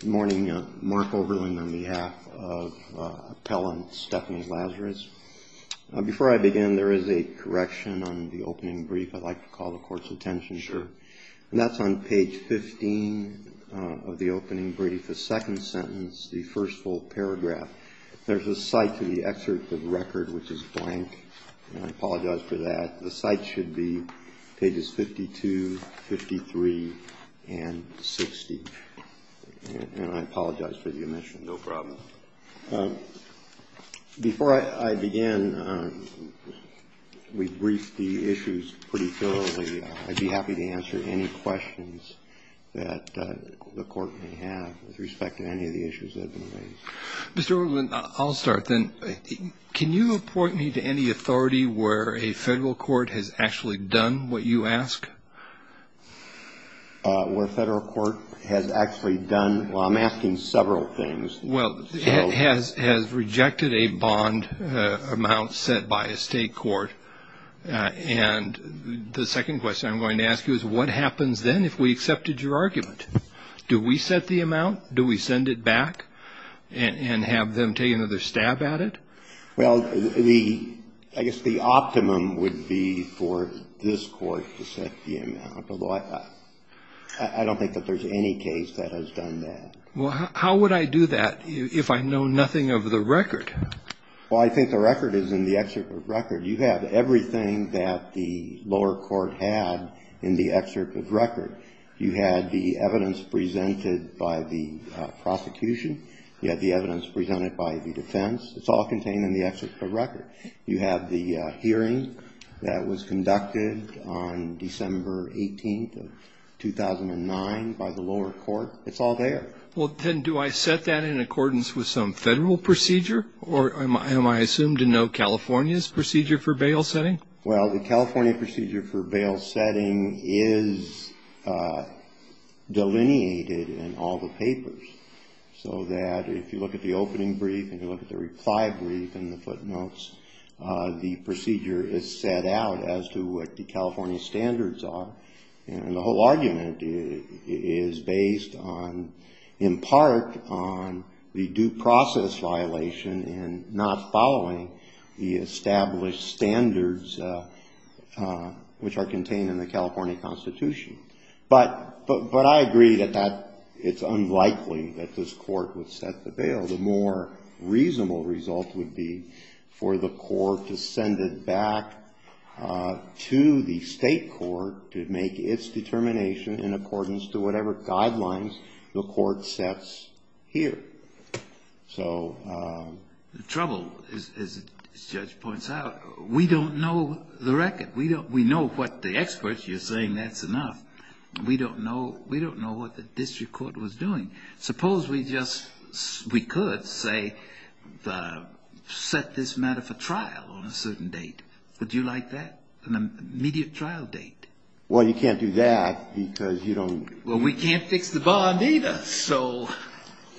Good morning. Mark Oberlin on behalf of Appellant Stephanie Lazarus. Before I begin, there is a correction on the opening brief I'd like to call the Court's attention to. And that's on page 15 of the opening brief, the second sentence, the first full paragraph. There's a cite to the excerpt of the record which is blank. And I apologize for that. The cite should be pages 52, 53, and 60. And I apologize for the omission. No problem. Before I begin, we've briefed the issues pretty thoroughly. I'd be happy to answer any questions that the Court may have with respect to any of the issues that have been raised. Mr. Oberlin, I'll start then. Can you report me to any authority where a federal court has actually done what you ask? Where a federal court has actually done, well, I'm asking several things. Well, has rejected a bond amount set by a state court. And the second question I'm going to ask you is what happens then if we accepted your argument? Do we set the amount? Do we send it back and have them take another stab at it? Well, I guess the optimum would be for this Court to set the amount. Although I don't think that there's any case that has done that. Well, how would I do that if I know nothing of the record? Well, I think the record is in the excerpt of record. You have everything that the lower court had in the excerpt of record. You had the evidence presented by the prosecution. You had the evidence presented by the defense. It's all contained in the excerpt of record. You have the hearing that was conducted on December 18th of 2009 by the lower court. It's all there. Well, then do I set that in accordance with some federal procedure? Or am I assumed to know California's procedure for bail setting? Well, the California procedure for bail setting is delineated in all the papers, so that if you look at the opening brief and you look at the reply brief and the footnotes, the procedure is set out as to what the California standards are. And the whole argument is based on, in part, on the due process violation and not following the established standards which are contained in the California Constitution. But I agree that it's unlikely that this court would set the bail. The more reasonable result would be for the court to send it back to the state court to make its determination in accordance to whatever guidelines the court sets here. The trouble, as the judge points out, we don't know the record. We know what the experts, you're saying that's enough. We don't know what the district court was doing. Suppose we could set this matter for trial on a certain date. Would you like that, an immediate trial date? Well, you can't do that because you don't Well, we can't fix the bond either, so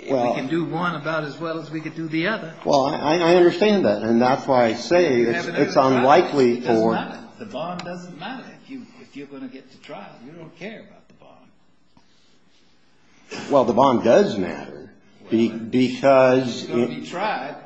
we can do one about as well as we can do the other. Well, I understand that, and that's why I say it's unlikely for It doesn't matter. The bond doesn't matter if you're going to get to trial. You don't care about the bond. Well, the bond does matter because It's going to be tried.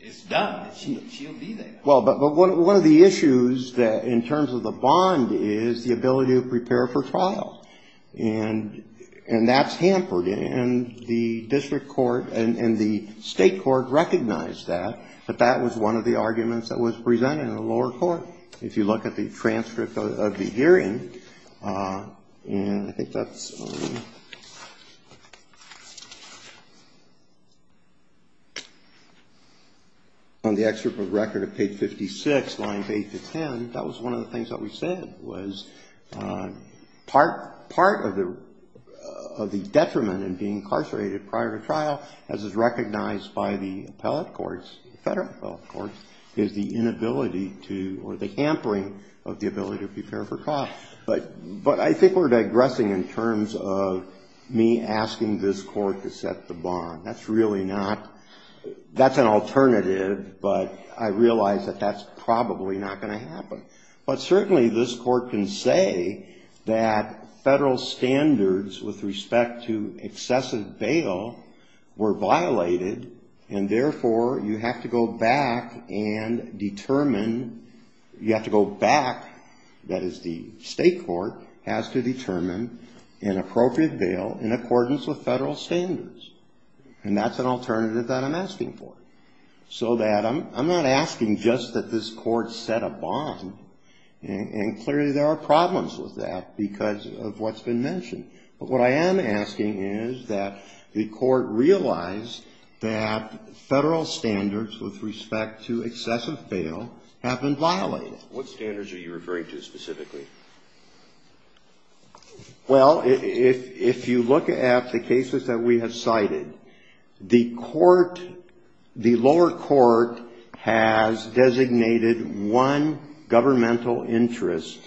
It's done. She'll be there. Well, but one of the issues in terms of the bond is the ability to prepare for trial. And that's hampered, and the district court and the state court recognized that, that that was one of the arguments that was presented in the lower court. If you look at the transcript of the hearing, and I think that's On the excerpt of record of page 56, lines 8 to 10, that was one of the things that we said was part of the detriment in being incarcerated prior to trial, as is recognized by the appellate courts, federal appellate courts, is the inability to, or the hampering of the ability to prepare for trial. But I think we're digressing in terms of me asking this court to set the bond. That's really not, that's an alternative, but I realize that that's probably not going to happen. But certainly this court can say that federal standards with respect to excessive bail were violated, and therefore you have to go back and determine, you have to go back, that is the state court, has to determine an appropriate bail in accordance with federal standards. And that's an alternative that I'm asking for. So that I'm not asking just that this court set a bond, and clearly there are problems with that because of what's been mentioned. But what I am asking is that the court realize that federal standards with respect to excessive bail have been violated. What standards are you referring to specifically? Well, if you look at the cases that we have cited, the court, the lower court has designated one governmental interest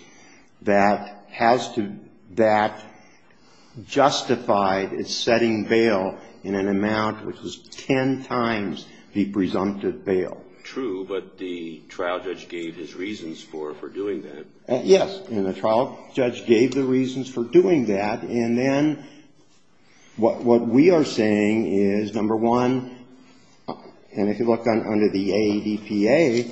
that has to, that justified setting bail in an amount which is ten times the presumptive bail. True, but the trial judge gave his reasons for doing that. Yes, and the trial judge gave the reasons for doing that. And then what we are saying is, number one, and if you look under the ADPA,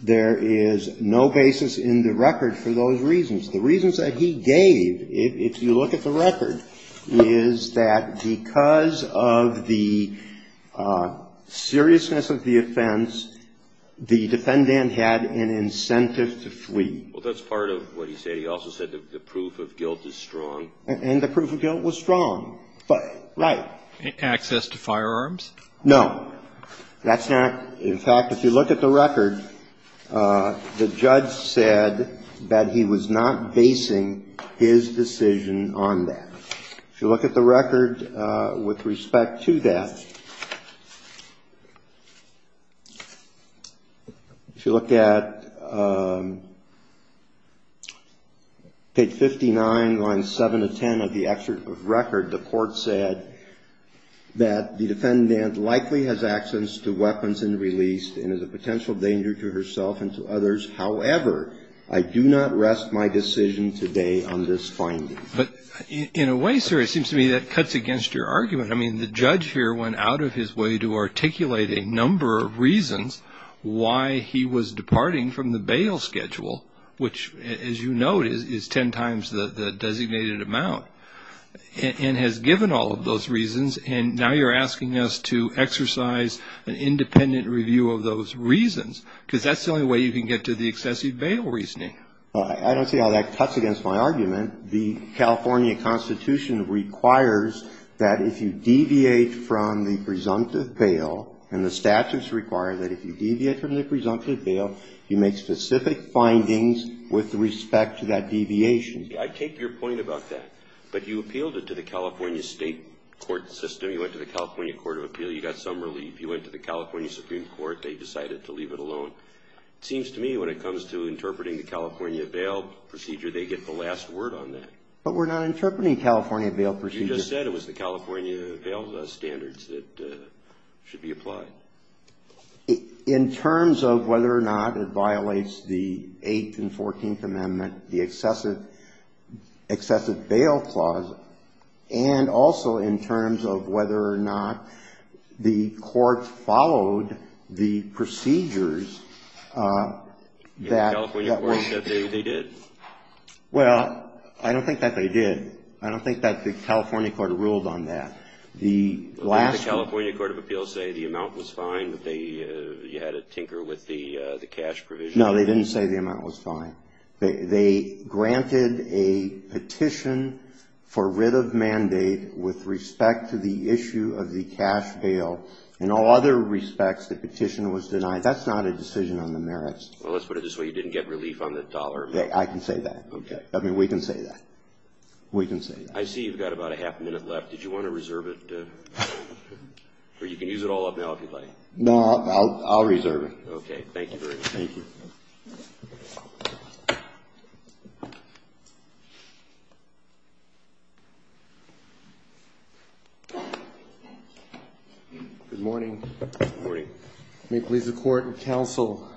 there is no basis in the record for those reasons. The reasons that he gave, if you look at the record, is that because of the seriousness of the offense, Well, that's part of what he said. He also said the proof of guilt is strong. And the proof of guilt was strong. Right. Access to firearms? No. That's not. In fact, if you look at the record, the judge said that he was not basing his decision on that. If you look at the record with respect to that, if you look at page 59, lines 7 to 10 of the excerpt of record, the court said that the defendant likely has access to weapons and released and is a potential danger to herself and to others. However, I do not rest my decision today on this finding. But in a way, sir, it seems to me that cuts against your argument. I mean, the judge here went out of his way to articulate a number of reasons why he was departing from the bail schedule, which, as you noted, is ten times the designated amount, and has given all of those reasons. And now you're asking us to exercise an independent review of those reasons, because that's the only way you can get to the excessive bail reasoning. I don't see how that cuts against my argument. And the California Constitution requires that if you deviate from the presumptive bail, and the statutes require that if you deviate from the presumptive bail, you make specific findings with respect to that deviation. I take your point about that. But you appealed it to the California state court system. You went to the California Court of Appeal. You got some relief. You went to the California Supreme Court. They decided to leave it alone. It seems to me when it comes to interpreting the California bail procedure, they get the last word on that. But we're not interpreting California bail procedure. You just said it was the California bail standards that should be applied. In terms of whether or not it violates the Eighth and Fourteenth Amendment, the excessive bail clause, and also in terms of whether or not the court followed the procedures that were ---- The California court said they did. Well, I don't think that they did. I don't think that the California court ruled on that. The last ---- Didn't the California Court of Appeal say the amount was fine, that you had to tinker with the cash provision? No, they didn't say the amount was fine. They granted a petition for writ of mandate with respect to the issue of the cash bail. In all other respects, the petition was denied. That's not a decision on the merits. Well, let's put it this way. You didn't get relief on the dollar. I can say that. Okay. I mean, we can say that. We can say that. I see you've got about a half a minute left. Did you want to reserve it? Or you can use it all up now if you'd like. No, I'll reserve it. Okay. Thank you very much. Thank you. Good morning. Good morning. May it please the Court and Counsel,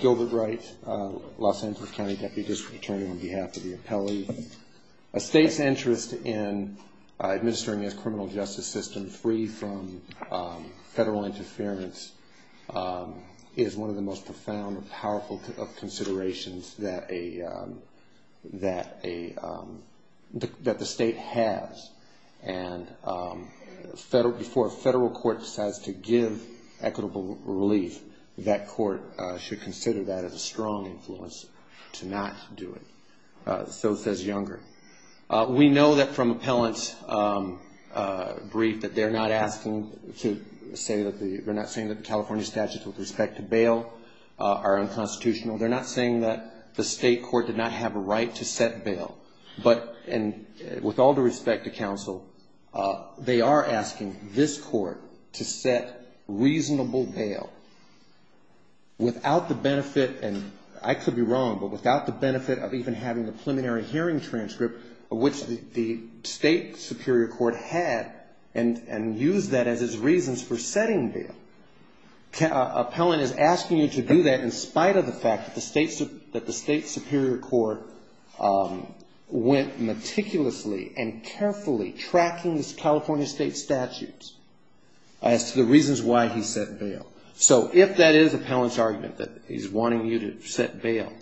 Gilbert Wright, Los Angeles County Deputy District Attorney on behalf of the appellee. A state's interest in administering its criminal justice system free from federal interference is one of the most profound and powerful of considerations that the state has. And before a federal court decides to give equitable relief, that court should consider that as a strong influence to not do it. So says Younger. We know that from appellant's brief that they're not asking to say that the California statutes with respect to bail are unconstitutional. They're not saying that the state court did not have a right to set bail. But with all due respect to counsel, they are asking this court to set reasonable bail without the benefit, and I could be wrong, but without the benefit of even having a preliminary hearing transcript of which the state superior court had and used that as its reasons for setting bail. Appellant is asking you to do that in spite of the fact that the state superior court went meticulously and carefully tracking the California state statutes as to the reasons why he set bail. So if that is appellant's argument, that he's wanting you to set bail,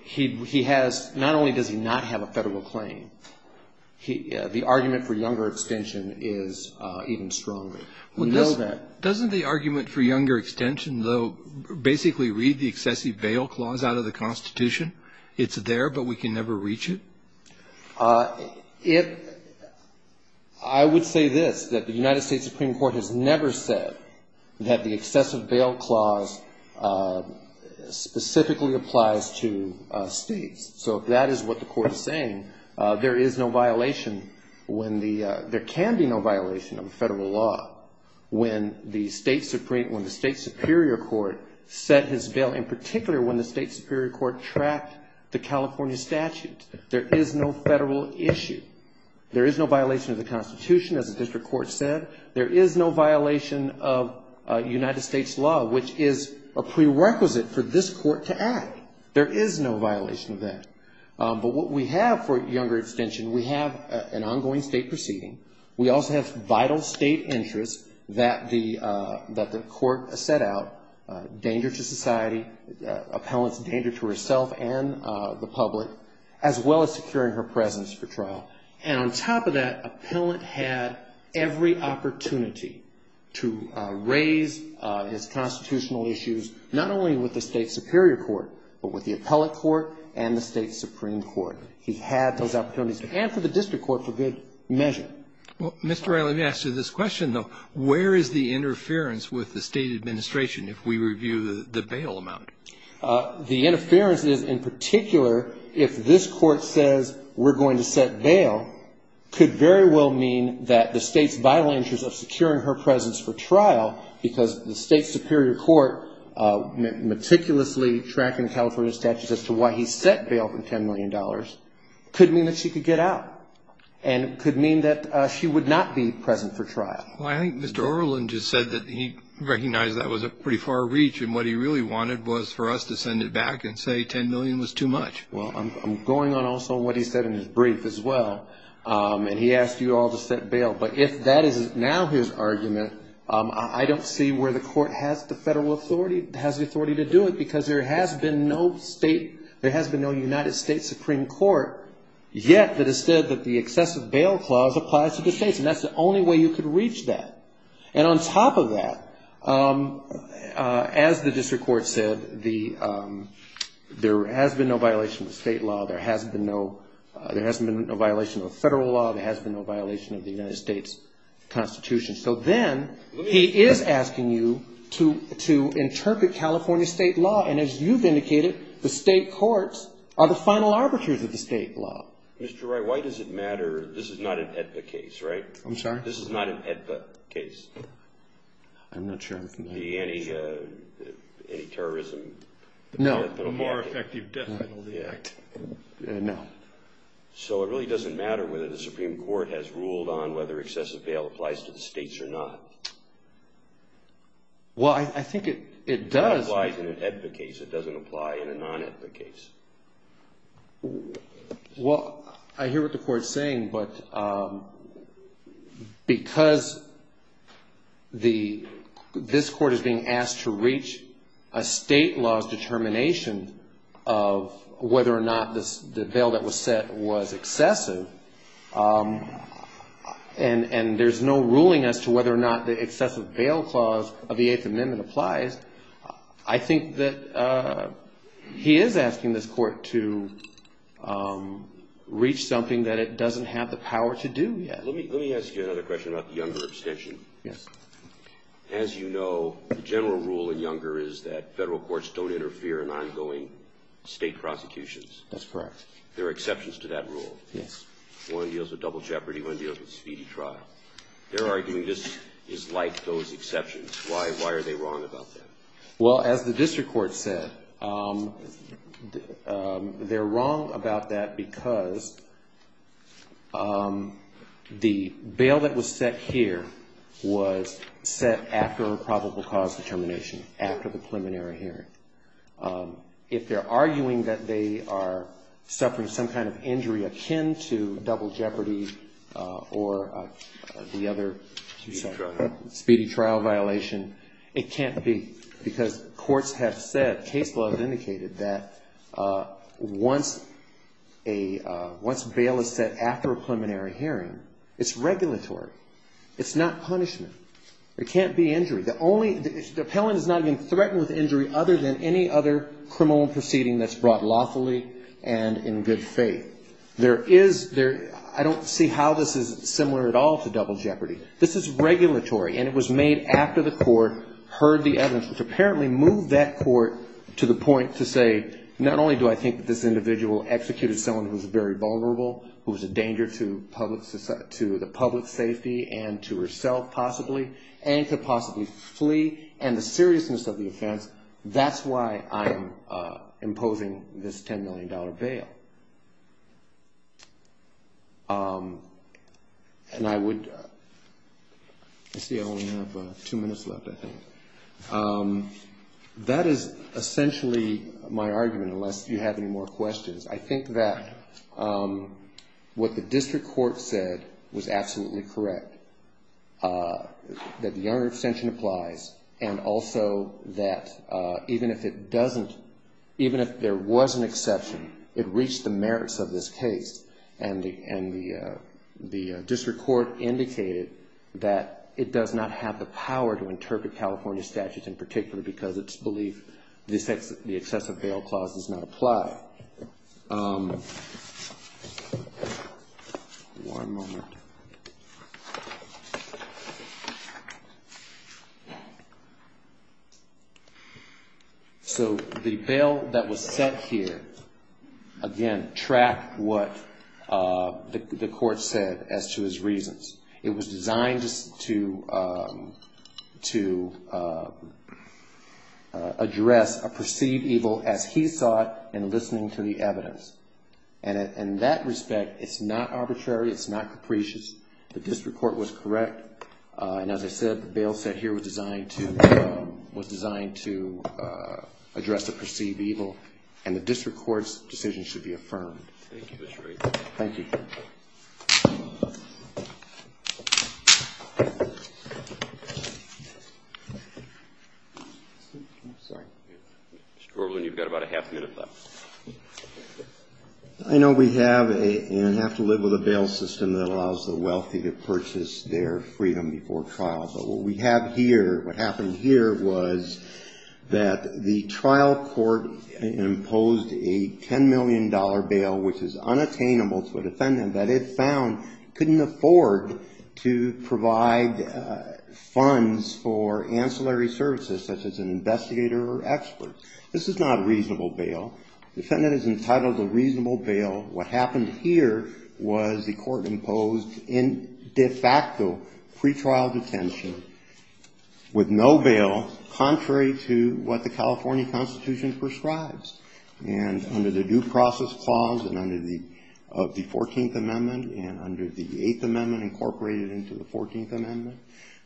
he has, not only does he not have a federal claim, the argument for Younger extension is even stronger. We know that. Doesn't the argument for Younger extension though basically read the excessive bail clause out of the Constitution? It's there, but we can never reach it? I would say this, that the United States Supreme Court has never said that the excessive bail clause specifically applies to states. So if that is what the court is saying, there is no violation, there can be no violation of federal law when the state superior court set his bail, in particular when the state superior court tracked the California statute. There is no federal issue. There is no violation of the Constitution, as the district court said. There is no violation of United States law, which is a prerequisite for this court to act. There is no violation of that. But what we have for Younger extension, we have an ongoing state proceeding. We also have vital state interests that the court set out, danger to society, appellant's danger to herself and the public, as well as securing her presence for trial. And on top of that, appellant had every opportunity to raise his constitutional issues, not only with the state superior court, but with the appellant court and the state supreme court. He's had those opportunities, and for the district court, for good measure. Well, Mr. Riley, let me ask you this question, though. Where is the interference with the state administration if we review the bail amount? The interference is, in particular, if this court says we're going to set bail, could very well mean that the state's vital interest of securing her presence for trial, because the state superior court meticulously tracking California statutes as to why he set bail for $10 million, could mean that she could get out. And it could mean that she would not be present for trial. Well, I think Mr. Orland just said that he recognized that was a pretty far reach, and what he really wanted was for us to send it back and say $10 million was too much. Well, I'm going on also what he said in his brief, as well. And he asked you all to set bail. But if that is now his argument, I don't see where the court has the federal authority, has the authority to do it, because there has been no United States Supreme Court yet that has said that the excessive bail clause applies to the states. And that's the only way you could reach that. And on top of that, as the district court said, there has been no violation of state law. There hasn't been no violation of federal law. There hasn't been no violation of the United States Constitution. So then he is asking you to interpret California state law. And as you've indicated, the state courts are the final arbiters of the state law. Mr. Wright, why does it matter? This is not an AEDPA case, right? I'm sorry? This is not an AEDPA case. I'm not sure. Any terrorism? No. A more effective death penalty. No. So it really doesn't matter whether the Supreme Court has ruled on whether excessive bail applies to the states or not? Well, I think it does. It applies in an AEDPA case. It doesn't apply in a non-AEDPA case. Well, I hear what the Court is saying. But because this Court is being asked to reach a state law's determination of whether or not the bail that was set was excessive, and there's no ruling as to whether or not the excessive bail clause of the Eighth Amendment applies, I think that he is asking this Court to reach something that it doesn't have the power to do yet. Let me ask you another question about the Younger abstention. Yes. As you know, the general rule in Younger is that federal courts don't interfere in ongoing state prosecutions. That's correct. There are exceptions to that rule. Yes. One deals with double jeopardy, one deals with speedy trial. They're arguing this is like those exceptions. Why are they wrong about that? Well, as the district court said, they're wrong about that because the bail that was set here was set after a probable cause determination, after the preliminary hearing. If they're arguing that they are suffering some kind of injury akin to double jeopardy or the other speedy trial violation, it can't be because courts have said, case law has indicated that once bail is set after a preliminary hearing, it's regulatory. It's not punishment. There can't be injury. The only the appellant is not even threatened with injury other than any other criminal proceeding that's brought lawfully and in good faith. There is, I don't see how this is similar at all to double jeopardy. This is regulatory and it was made after the court heard the evidence, which apparently moved that court to the point to say, not only do I think that this individual executed someone who was very vulnerable, who was a danger to the public safety and to herself possibly, and could possibly flee, and the seriousness of the offense, that's why I'm imposing this $10 million bail. And I would, let's see, I only have two minutes left, I think. That is essentially my argument, unless you have any more questions. I think that what the district court said was absolutely correct, that the honor extension applies and also that even if it doesn't, even if there was an exception, it reached the merits of this case and the district court indicated that it does not have the power to interpret California statutes in particular because it's believed the excessive bail clause does not apply. One moment. So the bail that was set here, again, tracked what the court said as to his reasons. It was designed to address a perceived evil as he saw it in listening to the evidence. And in that respect, it's not arbitrary, it's not capricious, the district court was correct. And as I said, the bail set here was designed to address the perceived evil and the district court's decision should be affirmed. Thank you. Mr. Orland, you've got about a half minute left. I know we have and have to live with a bail system that allows the wealthy to purchase their freedom before trial. But what we have here, what happened here was that the trial court imposed a $10 million bail, which is unattainable to a defendant. And that it found couldn't afford to provide funds for ancillary services, such as an investigator or expert. This is not a reasonable bail. Defendant is entitled to reasonable bail. What happened here was the court imposed in de facto pretrial detention with no bail, contrary to what the California Constitution prescribes. And under the due process clause and under the 14th Amendment and under the 8th Amendment incorporated into the 14th Amendment,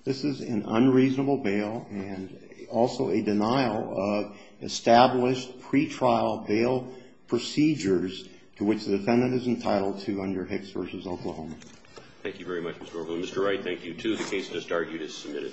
this is an unreasonable bail and also a denial of established pretrial bail procedures to which the defendant is entitled to under Hicks v. Oklahoma. Thank you very much, Mr. Orland. Mr. Wright, thank you too. The case just argued is submitted. Thank you.